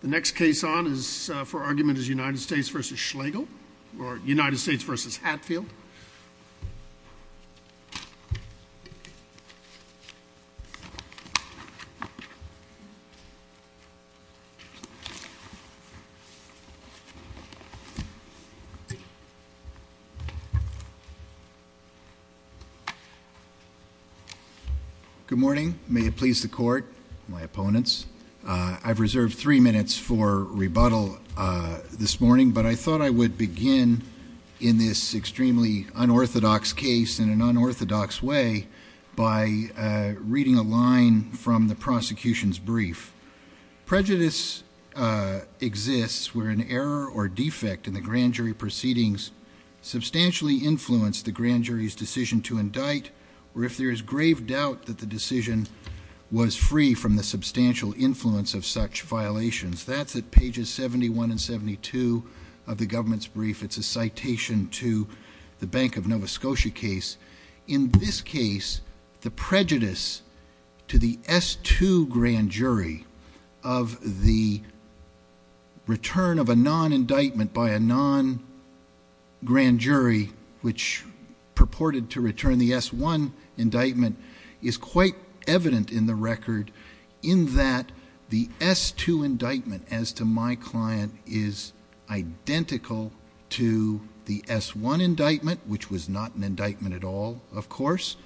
The next case on is for argument is United States v. Schlegel, or United States v. Hatfield. Good morning. May it please the court, my opponents. I've reserved three minutes for rebuttal this morning, but I thought I would begin in this extremely unorthodox case in an unorthodox way by reading a line from the prosecution's brief. Prejudice exists where an error or defect in the grand jury proceedings substantially influenced the grand jury's decision to indict, or if there is grave doubt that the decision was free from the substantial influence of such violations. That's at pages 71 and 72 of the government's brief. It's a citation to the Bank of Nova Scotia case. In this case, the prejudice to the S-2 grand jury of the return of a non-indictment by a non-grand jury which purported to return the S-1 indictment is quite evident in the record in that the S-2 indictment as to my client is identical to the S-1 indictment, which was not an indictment at all, of course.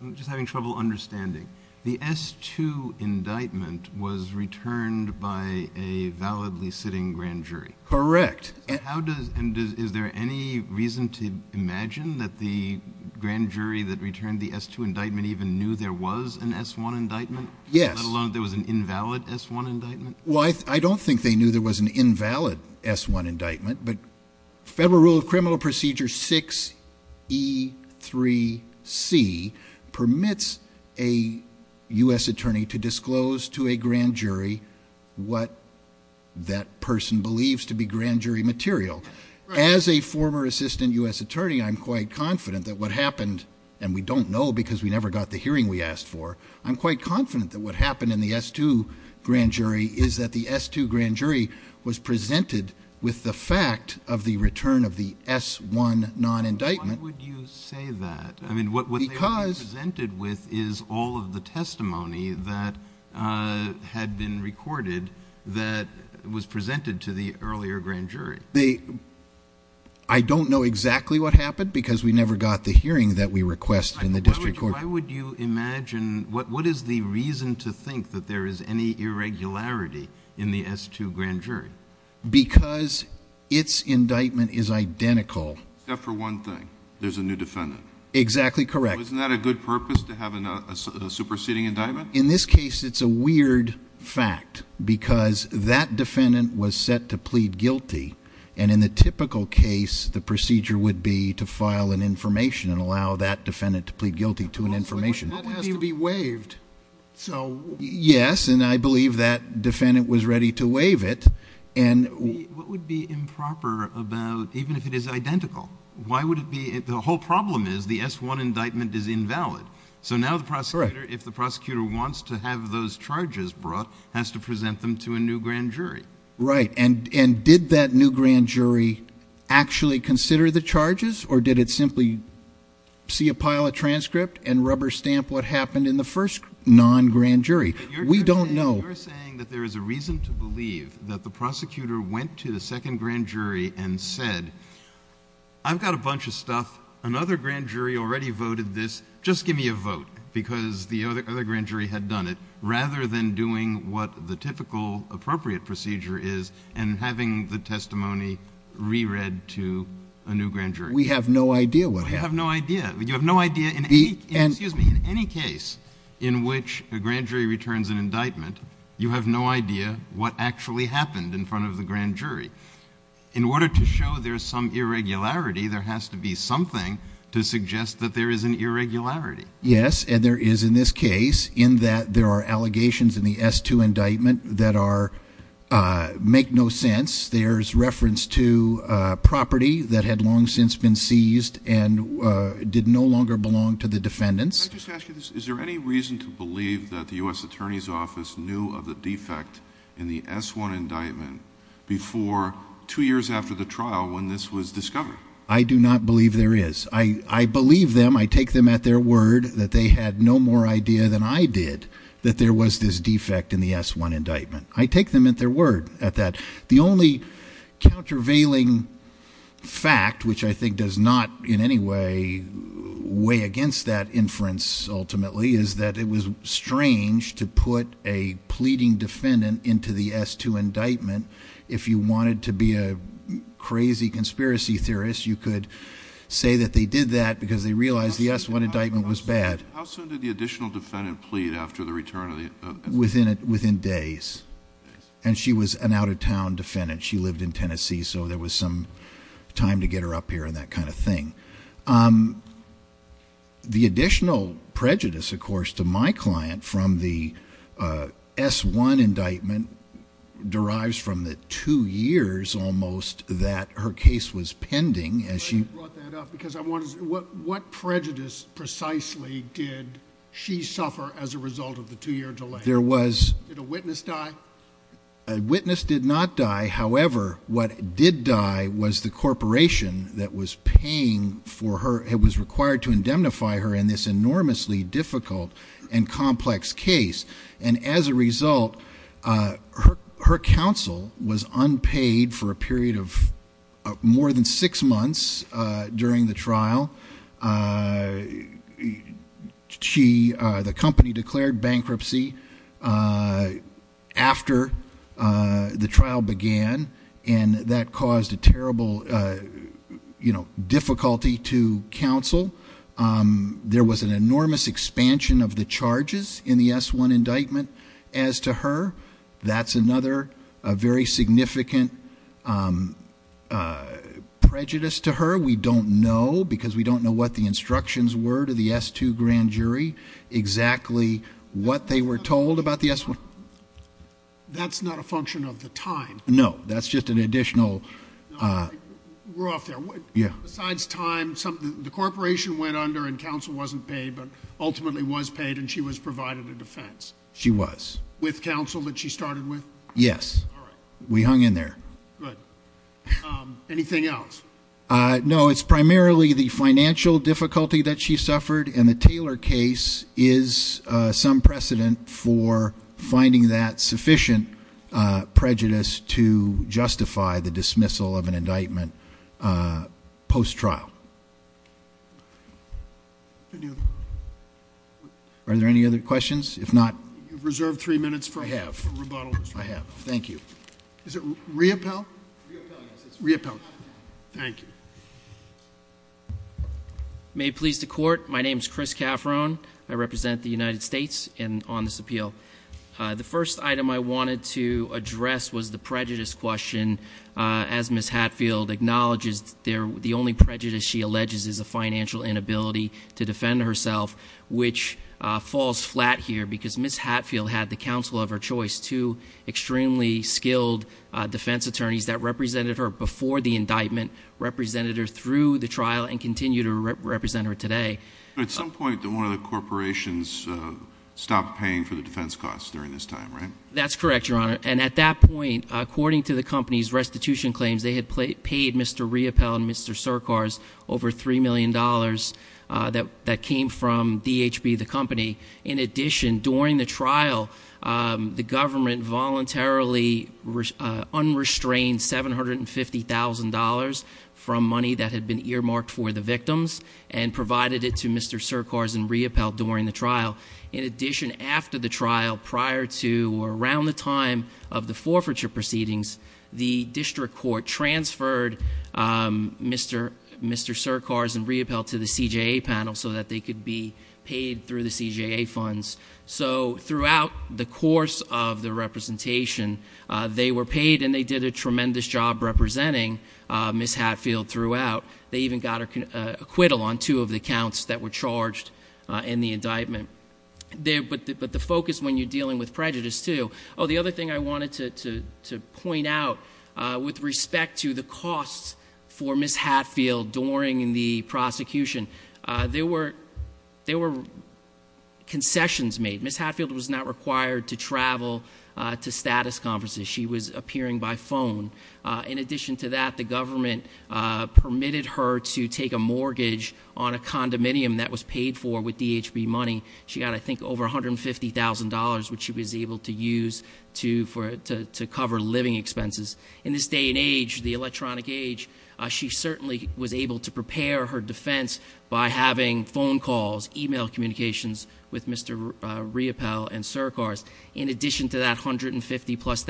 I'm just having trouble understanding. The S-2 indictment was returned by a validly sitting grand jury. Correct. Is there any reason to imagine that the grand jury that returned the S-2 indictment even knew there was an S-1 indictment? Yes. Let alone there was an invalid S-1 indictment? Well, I don't think they knew there was an invalid S-1 indictment, but Federal Rule of Criminal Procedure 6E3C permits a U.S. attorney to disclose to a grand jury what that person believes to be grand jury material. As a former assistant U.S. attorney, I'm quite confident that what happened, and we don't know because we never got the hearing we asked for, I'm quite confident that what happened in the S-2 grand jury is that the S-2 grand jury was presented with the fact of the return of the S-1 non-indictment. Why would you say that? I mean, what they were presented with is all of the testimony that had been recorded that was presented to the earlier grand jury. I don't know exactly what happened because we never got the hearing that we requested in the district court. Why would you imagine, what is the reason to think that there is any irregularity in the S-2 grand jury? Because its indictment is identical. Except for one thing, there's a new defendant. Exactly correct. Isn't that a good purpose to have a superseding indictment? In this case, it's a weird fact because that defendant was set to plead guilty. And in the typical case, the procedure would be to file an information and allow that defendant to plead guilty to an information. That has to be waived. Yes, and I believe that defendant was ready to waive it. What would be improper about, even if it is identical, why would it be, the whole problem is the S-1 indictment is invalid. So now the prosecutor, if the prosecutor wants to have those charges brought, has to present them to a new grand jury. Right. And did that new grand jury actually consider the charges or did it simply see a pile of transcript and rubber stamp what happened in the first non-grand jury? We don't know. You're saying that there is a reason to believe that the prosecutor went to the second grand jury and said, I've got a bunch of stuff. Another grand jury already voted this. Just give me a vote. Because the other grand jury had done it. Rather than doing what the typical appropriate procedure is and having the testimony re-read to a new grand jury. We have no idea what happened. You have no idea. In any case in which a grand jury returns an indictment, you have no idea what actually happened in front of the grand jury. In order to show there's some irregularity, there has to be something to suggest that there is an irregularity. Yes, and there is in this case in that there are allegations in the S-2 indictment that make no sense. There's reference to property that had long since been seized and did no longer belong to the defendants. Can I just ask you this? Is there any reason to believe that the U.S. Attorney's Office knew of the defect in the S-1 indictment before two years after the trial when this was discovered? I do not believe there is. I believe them. I take them at their word that they had no more idea than I did that there was this defect in the S-1 indictment. I take them at their word at that. The only countervailing fact, which I think does not in any way weigh against that inference ultimately, is that it was strange to put a pleading defendant into the S-2 indictment. If you wanted to be a crazy conspiracy theorist, you could say that they did that because they realized the S-1 indictment was bad. How soon did the additional defendant plead after the return of the S-2? Within days. And she was an out-of-town defendant. She lived in Tennessee, so there was some time to get her up here and that kind of thing. The additional prejudice, of course, to my client from the S-1 indictment derives from the two years almost that her case was pending. What prejudice precisely did she suffer as a result of the two-year delay? Did a witness die? A witness did not die. However, what did die was the corporation that was paying for her and was required to indemnify her in this enormously difficult and complex case. And as a result, her counsel was unpaid for a period of more than six months during the trial. The company declared bankruptcy after the trial began, and that caused a terrible difficulty to counsel. There was an enormous expansion of the charges in the S-1 indictment as to her. That's another very significant prejudice to her. We don't know, because we don't know what the instructions were to the S-2 grand jury, exactly what they were told about the S-1. That's not a function of the time. No, that's just an additional. We're off there. Besides time, the corporation went under and counsel wasn't paid, but ultimately was paid and she was provided a defense. She was. With counsel that she started with? Yes. All right. We hung in there. Good. Anything else? No, it's primarily the financial difficulty that she suffered, and the Taylor case is some precedent for finding that sufficient prejudice to justify the dismissal of an indictment post-trial. Are there any other questions? If not- You've reserved three minutes for rebuttal. I have, I have. Thank you. Is it reappell? Reappell, yes. Reappell. Thank you. May it please the court. My name is Chris Caffrone. I represent the United States on this appeal. The first item I wanted to address was the prejudice question, as Ms. Hatfield acknowledges the only prejudice she alleges is a financial inability to defend herself, which falls flat here because Ms. Hatfield had the counsel of her choice, two extremely skilled defense attorneys that represented her before the indictment, represented her through the trial, and continue to represent her today. But at some point, one of the corporations stopped paying for the defense costs during this time, right? That's correct, Your Honor. And at that point, according to the company's restitution claims, they had paid Mr. Reappell and Mr. Surcars over $3 million that came from DHB, the company. In addition, during the trial, the government voluntarily unrestrained $750,000 from money that had been earmarked for the victims and provided it to Mr. Surcars and Reappell during the trial. In addition, after the trial, prior to or around the time of the forfeiture proceedings, the district court transferred Mr. Surcars and Reappell to the CJA panel so that they could be paid through the CJA funds. So throughout the course of the representation, they were paid and they did a tremendous job representing Ms. Hatfield throughout. They even got an acquittal on two of the counts that were charged in the indictment. But the focus when you're dealing with prejudice too. The other thing I wanted to point out with respect to the costs for Ms. Hatfield during the prosecution, there were concessions made. Ms. Hatfield was not required to travel to status conferences. She was appearing by phone. In addition to that, the government permitted her to take a mortgage on a condominium that was paid for with DHB money. She got, I think, over $150,000 which she was able to use to cover living expenses. In this day and age, the electronic age, she certainly was able to prepare her defense by having phone calls, email communications with Mr. Reappell and Surcars. In addition to that $150,000 plus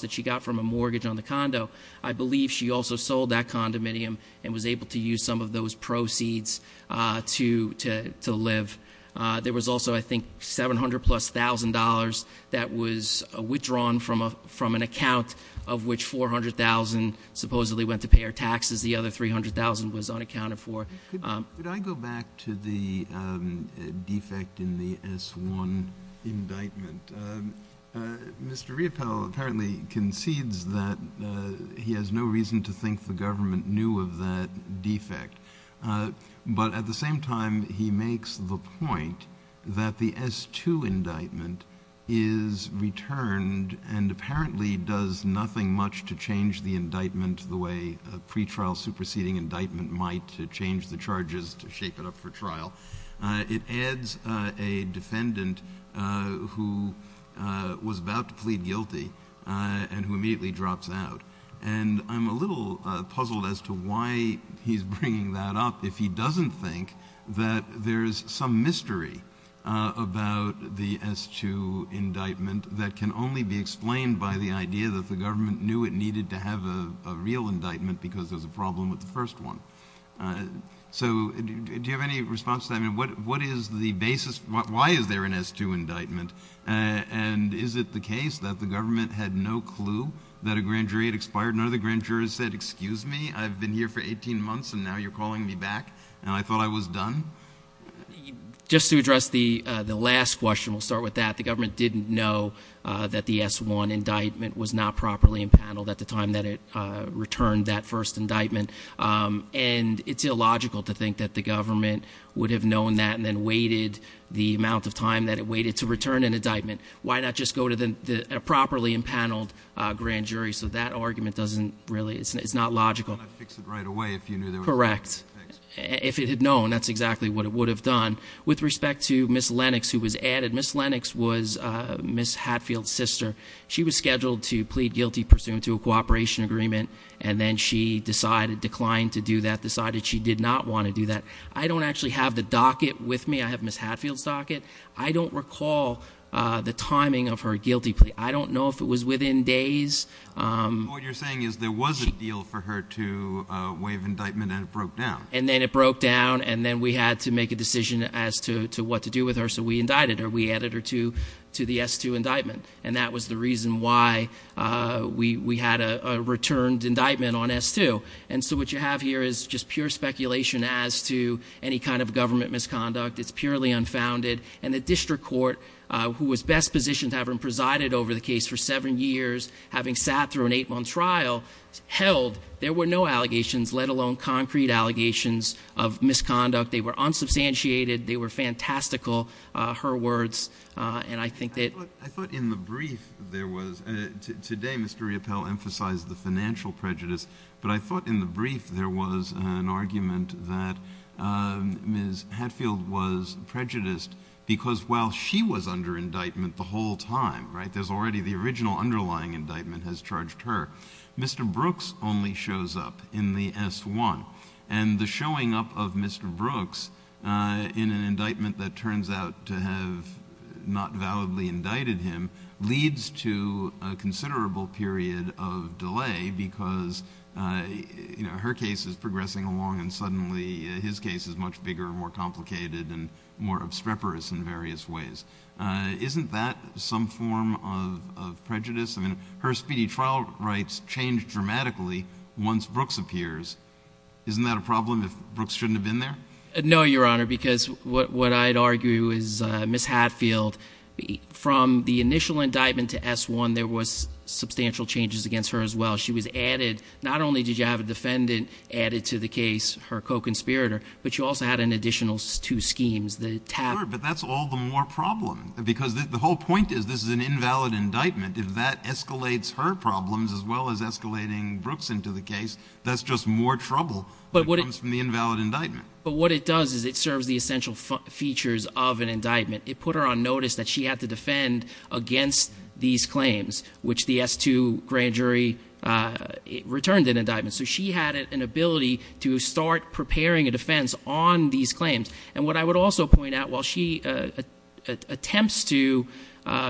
that she got from a mortgage on the condo, I believe she also sold that condominium and was able to use some of those proceeds to live. There was also, I think, $700,000 plus that was withdrawn from an account of which $400,000 supposedly went to pay her taxes. The other $300,000 was unaccounted for. Could I go back to the defect in the S1 indictment? Mr. Reappell apparently concedes that he has no reason to think the government knew of that defect. But at the same time, he makes the point that the S2 indictment is returned and apparently does nothing much to change the indictment the way a pretrial superseding indictment might to change the charges to shape it up for trial. It adds a defendant who was about to plead guilty and who immediately drops out. And I'm a little puzzled as to why he's bringing that up if he doesn't think that there's some mystery about the S2 indictment that can only be explained by the idea that the government knew it needed to have a real indictment because there's a problem with the first one. So do you have any response to that? What is the basis, why is there an S2 indictment? And is it the case that the government had no clue that a grand jury had expired? None of the grand jurors said, excuse me, I've been here for 18 months and now you're calling me back? And I thought I was done? Just to address the last question, we'll start with that. The government didn't know that the S1 indictment was not properly impaneled at the time that it returned that first indictment. And it's illogical to think that the government would have known that and waited the amount of time that it waited to return an indictment. Why not just go to a properly impaneled grand jury? So that argument doesn't really, it's not logical. I'm going to fix it right away if you knew there was a- Correct. If it had known, that's exactly what it would have done. With respect to Ms. Lennox, who was added, Ms. Lennox was Ms. Hatfield's sister. She was scheduled to plead guilty pursuant to a cooperation agreement, and then she decided, declined to do that, decided she did not want to do that. I don't actually have the docket with me. I have Ms. Hatfield's docket. I don't recall the timing of her guilty plea. I don't know if it was within days. What you're saying is there was a deal for her to waive indictment and it broke down. And then it broke down, and then we had to make a decision as to what to do with her. So we indicted her. We added her to the S2 indictment. And that was the reason why we had a returned indictment on S2. And so what you have here is just pure speculation as to any kind of government misconduct. It's purely unfounded. And the district court, who was best positioned to have her presided over the case for seven years, having sat through an eight month trial, held there were no allegations, let alone concrete allegations of misconduct. They were unsubstantiated. They were fantastical, her words, and I think that- I thought in the brief there was, today Mr. Riopelle emphasized the financial prejudice. But I thought in the brief there was an argument that Ms. Hatfield was prejudiced because while she was under indictment the whole time, right? There's already the original underlying indictment has charged her. Mr. Brooks only shows up in the S1. And the showing up of Mr. Brooks in an indictment that turns out to have not validly indicted him leads to a considerable period of delay. Because her case is progressing along and suddenly his case is much bigger and more complicated and more obstreperous in various ways. Isn't that some form of prejudice? I mean, her speedy trial rights change dramatically once Brooks appears. Isn't that a problem if Brooks shouldn't have been there? No, Your Honor, because what I'd argue is Ms. Hatfield, from the initial indictment to S1 there was substantial changes against her as well. She was added, not only did you have a defendant added to the case, her co-conspirator, but she also had an additional two schemes, the tap- But that's all the more problem, because the whole point is this is an invalid indictment. If that escalates her problems as well as escalating Brooks into the case, that's just more trouble that comes from the invalid indictment. But what it does is it serves the essential features of an indictment. It put her on notice that she had to defend against these claims, which the S2 grand jury returned an indictment. So she had an ability to start preparing a defense on these claims. And what I would also point out, while she attempts to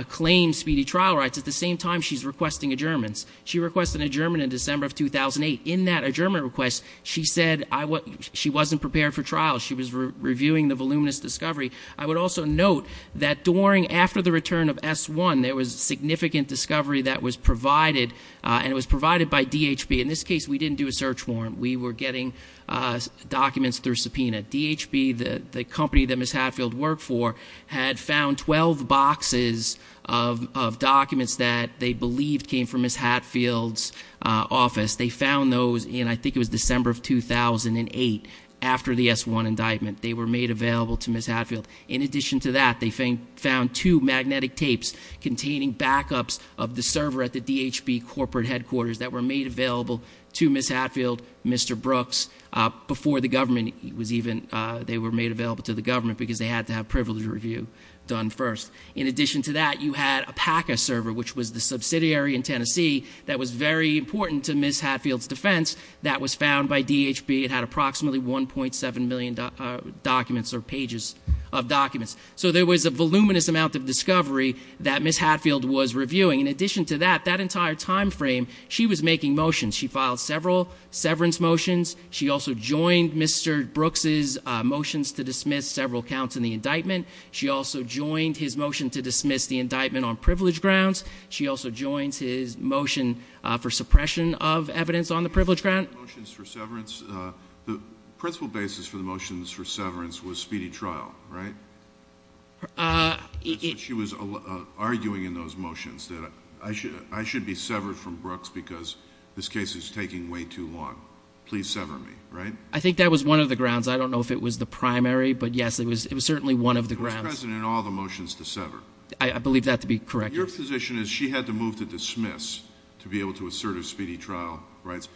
claim speedy trial rights, at the same time she's requesting adjournments. She requested an adjournment in December of 2008. In that adjournment request, she said she wasn't prepared for trial. She was reviewing the voluminous discovery. I would also note that during, after the return of S1, there was significant discovery that was provided. And it was provided by DHB. In this case, we didn't do a search warrant. We were getting documents through subpoena. DHB, the company that Ms. Hatfield worked for, had found 12 boxes of documents that they believed came from Ms. Hatfield's office. They found those in, I think it was December of 2008, after the S1 indictment. They were made available to Ms. Hatfield. In addition to that, they found two magnetic tapes containing backups of the server at the DHB corporate headquarters. That were made available to Ms. Hatfield, Mr. Brooks. Before the government was even, they were made available to the government because they had to have privilege review done first. In addition to that, you had a PACA server, which was the subsidiary in Tennessee that was very important to Ms. Hatfield's defense. That was found by DHB. It had approximately 1.7 million documents or pages of documents. So there was a voluminous amount of discovery that Ms. Hatfield was reviewing. In addition to that, that entire time frame, she was making motions. She filed several severance motions. She also joined Mr. Brooks' motions to dismiss several counts in the indictment. She also joined his motion to dismiss the indictment on privilege grounds. She also joins his motion for suppression of evidence on the privilege ground. The motions for severance, the principle basis for the motions for severance was speedy trial, right? She was arguing in those motions that I should be severed from Brooks because this case is taking way too long. Please sever me, right? I think that was one of the grounds. I don't know if it was the primary, but yes, it was certainly one of the grounds. It was present in all the motions to sever. I believe that to be correct. Your position is she had to move to dismiss to be able to assert her speedy trial rights.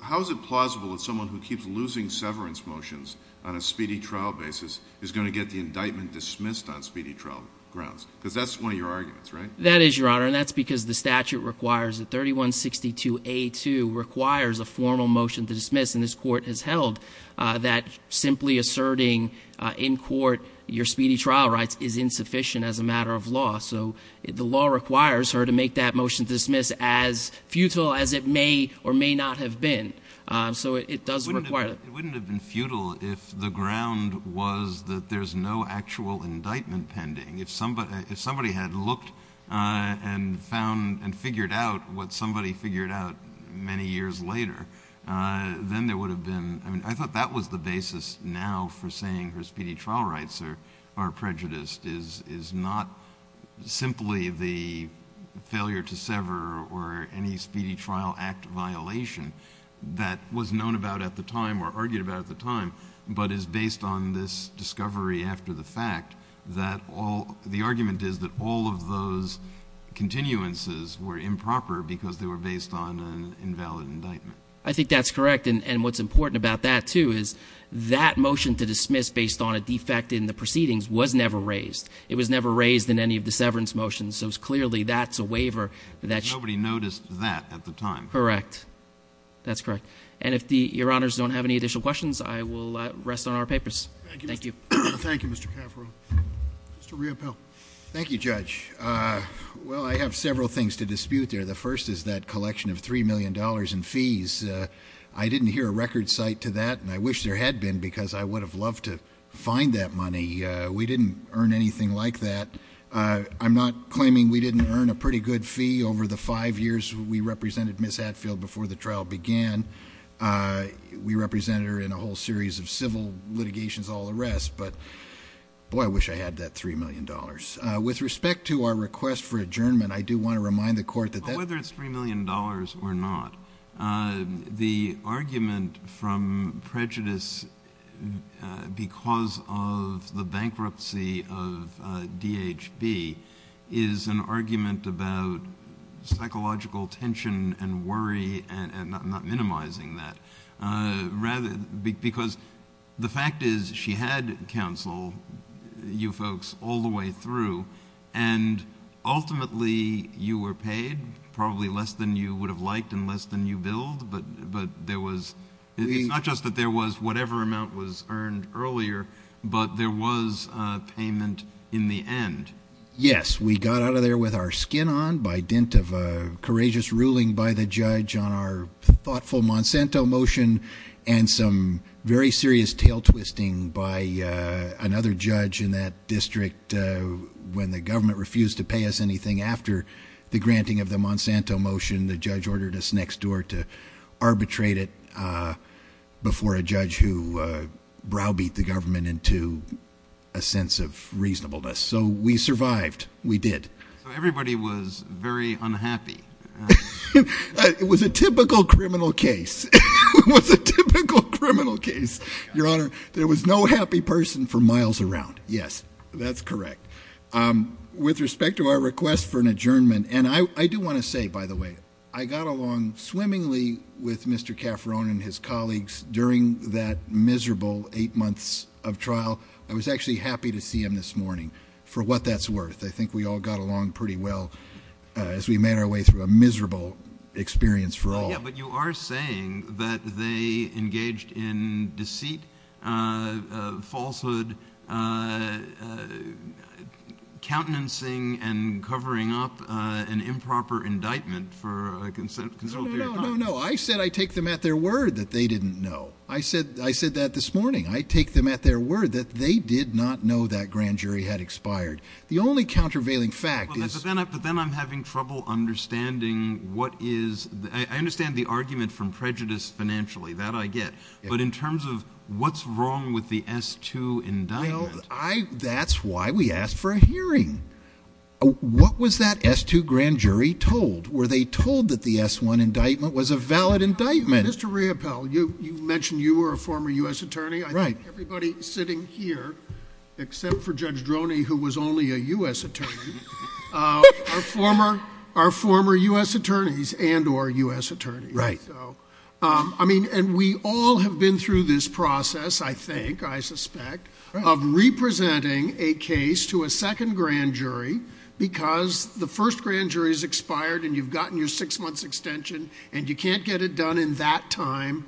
How is it plausible that someone who keeps losing severance motions on a speedy trial basis is going to get the indictment dismissed on speedy trial grounds, because that's one of your arguments, right? That is, your honor, and that's because the statute requires that 3162A2 requires a formal motion to dismiss. And this court has held that simply asserting in court your speedy trial rights is insufficient as a matter of law. So the law requires her to make that motion to dismiss as futile as it may or may not have been. So it does require- It wouldn't have been futile if the ground was that there's no actual indictment pending. If somebody had looked and found and figured out what somebody figured out many years later, then there would have been- I mean, I thought that was the basis now for saying her speedy trial rights are prejudiced, is not simply the failure to sever or any speedy trial act violation that was known about at the time or argued about at the time, but is based on this discovery after the fact that all, the argument is that all of those continuances were improper because they were based on an invalid indictment. I think that's correct, and what's important about that, too, is that motion to dismiss based on a defect in the proceedings was never raised. It was never raised in any of the severance motions, so clearly that's a waiver that- Nobody noticed that at the time. Correct. That's correct. And if your honors don't have any additional questions, I will rest on our papers. Thank you. Thank you, Mr. Caffaro. Mr. Riopelle. Thank you, Judge. Well, I have several things to dispute there. The first is that collection of $3 million in fees. I didn't hear a record cite to that, and I wish there had been because I would have loved to find that money. We didn't earn anything like that. I'm not claiming we didn't earn a pretty good fee over the five years we represented Ms. Hadfield before the trial began. We represented her in a whole series of civil litigations, all the rest, but boy, I wish I had that $3 million. With respect to our request for adjournment, I do want to remind the court that- Whether it's $3 million or not, the argument from prejudice because of the bankruptcy of DHB is an argument about psychological tension and worry and not minimizing that. Because the fact is, she had counsel, you folks, all the way through, and ultimately you were paid probably less than you would have liked and less than you billed. But there was, it's not just that there was whatever amount was earned earlier, but there was payment in the end. Yes, we got out of there with our skin on by dint of a courageous ruling by the judge on our thoughtful Monsanto motion. And some very serious tail twisting by another judge in that district when the government refused to pay us anything after the granting of the Monsanto motion, the judge ordered us next door to arbitrate it before a judge who browbeat the government into a sense of reasonableness, so we survived, we did. So everybody was very unhappy. It was a typical criminal case, it was a typical criminal case, your honor, there was no happy person for miles around, yes, that's correct. With respect to our request for an adjournment, and I do want to say, by the way, I got along swimmingly with Mr. Caffarone and his colleagues during that miserable eight months of trial. I was actually happy to see him this morning, for what that's worth. I think we all got along pretty well as we made our way through a miserable experience for all. Yeah, but you are saying that they engaged in deceit, falsehood, countenancing and covering up an improper indictment for a consulted period of time. No, no, no, I said I take them at their word that they didn't know. I said that this morning. I take them at their word that they did not know that grand jury had expired. The only countervailing fact is- But then I'm having trouble understanding what is, I understand the argument from prejudice financially, that I get. But in terms of what's wrong with the S2 indictment. That's why we asked for a hearing. What was that S2 grand jury told? Were they told that the S1 indictment was a valid indictment? Mr. Riopelle, you mentioned you were a former US attorney. I think everybody sitting here, except for Judge Droney, who was only a US attorney, are former US attorneys and or US attorneys. Right. I mean, and we all have been through this process, I think, I suspect, of representing a case to a second grand jury because the first grand jury has expired and you've gotten your six months extension and you can't get it done in that time.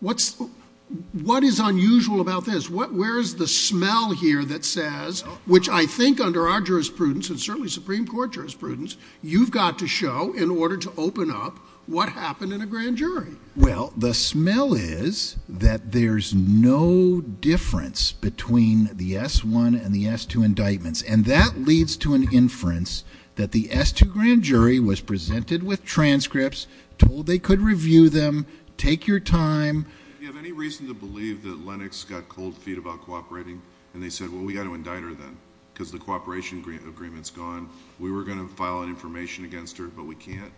What is unusual about this? Where's the smell here that says, which I think under our jurisprudence and certainly Supreme Court jurisprudence, you've got to show in order to open up what happened in a grand jury. Well, the smell is that there's no difference between the S1 and the S2 indictments. And that leads to an inference that the S2 grand jury was presented with transcripts, told they could review them, take your time. Do you have any reason to believe that Lennox got cold feet about cooperating? And they said, well, we've got to indict her then, because the cooperation agreement's gone. We were going to file an information against her, but we can't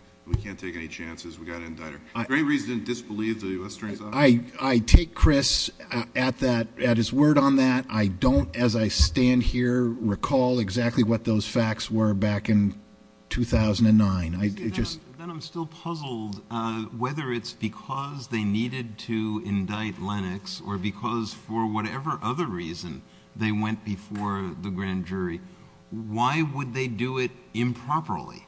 take any chances. We've got to indict her. Is there any reason to disbelieve the US Attorney's Office? I take Chris at his word on that. I don't, as I stand here, recall exactly what those facts were back in 2009. Then I'm still puzzled whether it's because they needed to indict Lennox or because for whatever other reason they went before the grand jury. Why would they do it improperly?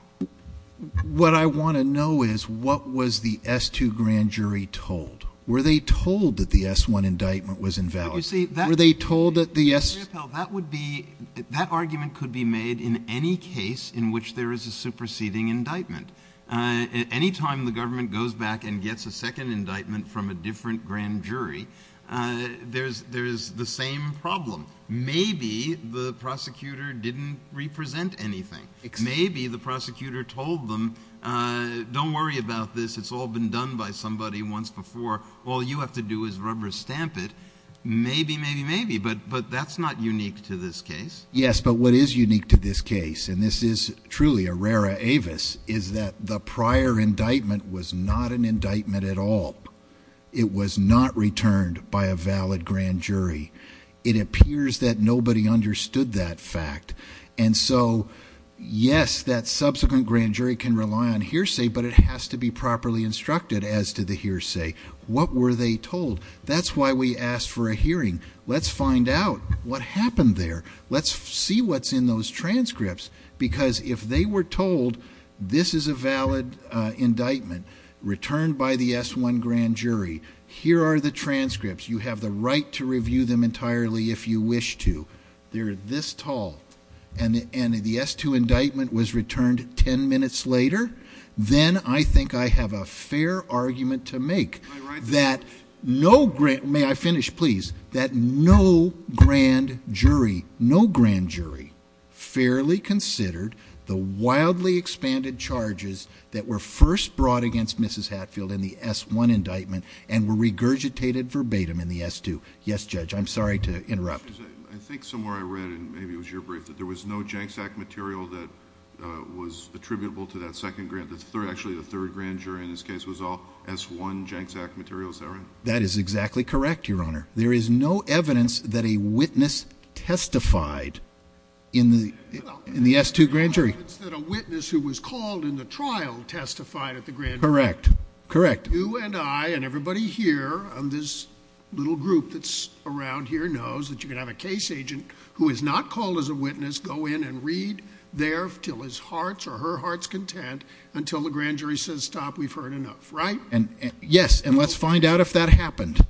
What I want to know is, what was the S2 grand jury told? Were they told that the S1 indictment was invalid? Were they told that the S- Any time the government goes back and gets a second indictment from a different grand jury, there's the same problem. Maybe the prosecutor didn't represent anything. Maybe the prosecutor told them, don't worry about this. It's all been done by somebody once before. All you have to do is rubber stamp it. Maybe, maybe, maybe, but that's not unique to this case. Yes, but what is unique to this case, and this is truly a Rara Avis, is that the prior indictment was not an indictment at all. It was not returned by a valid grand jury. It appears that nobody understood that fact. And so, yes, that subsequent grand jury can rely on hearsay, but it has to be properly instructed as to the hearsay. What were they told? That's why we asked for a hearing. Let's find out what happened there. Let's see what's in those transcripts, because if they were told this is a valid indictment returned by the S-1 grand jury, here are the transcripts. You have the right to review them entirely if you wish to. They're this tall. And the S-2 indictment was returned ten minutes later. Then I think I have a fair argument to make that no grand, no grand jury fairly considered the wildly expanded charges that were first brought against Mrs. Hatfield in the S-1 indictment and were regurgitated verbatim in the S-2. Yes, Judge, I'm sorry to interrupt. I think somewhere I read, and maybe it was your brief, that there was no Janks Act material that was attributable to that second grand. Actually, the third grand jury in this case was all S-1 Janks Act material. Is that right? That is exactly correct, Your Honor. There is no evidence that a witness testified in the S-2 grand jury. It's that a witness who was called in the trial testified at the grand jury. Correct, correct. You and I and everybody here on this little group that's around here knows that you can have a case agent who is not called as a witness go in and read there until his heart's or her heart's content until the grand jury says stop, we've heard enough, right? Yes, and let's find out if that happened.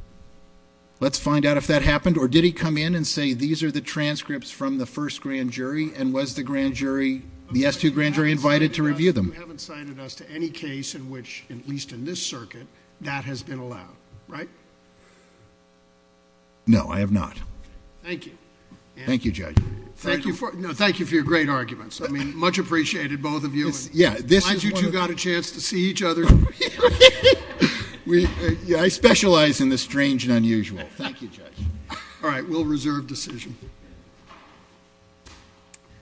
Let's find out if that happened, or did he come in and say, these are the transcripts from the first grand jury, and was the grand jury, the S-2 grand jury, invited to review them? You haven't cited us to any case in which, at least in this circuit, that has been allowed, right? No, I have not. Thank you. Thank you, Judge. Thank you for, no, thank you for your great arguments. I mean, much appreciated, both of you. Yeah, this is one of the- Why'd you two got a chance to see each other? Really? We, I specialize in the strange and unusual. Thank you, Judge. All right, we'll reserve decision.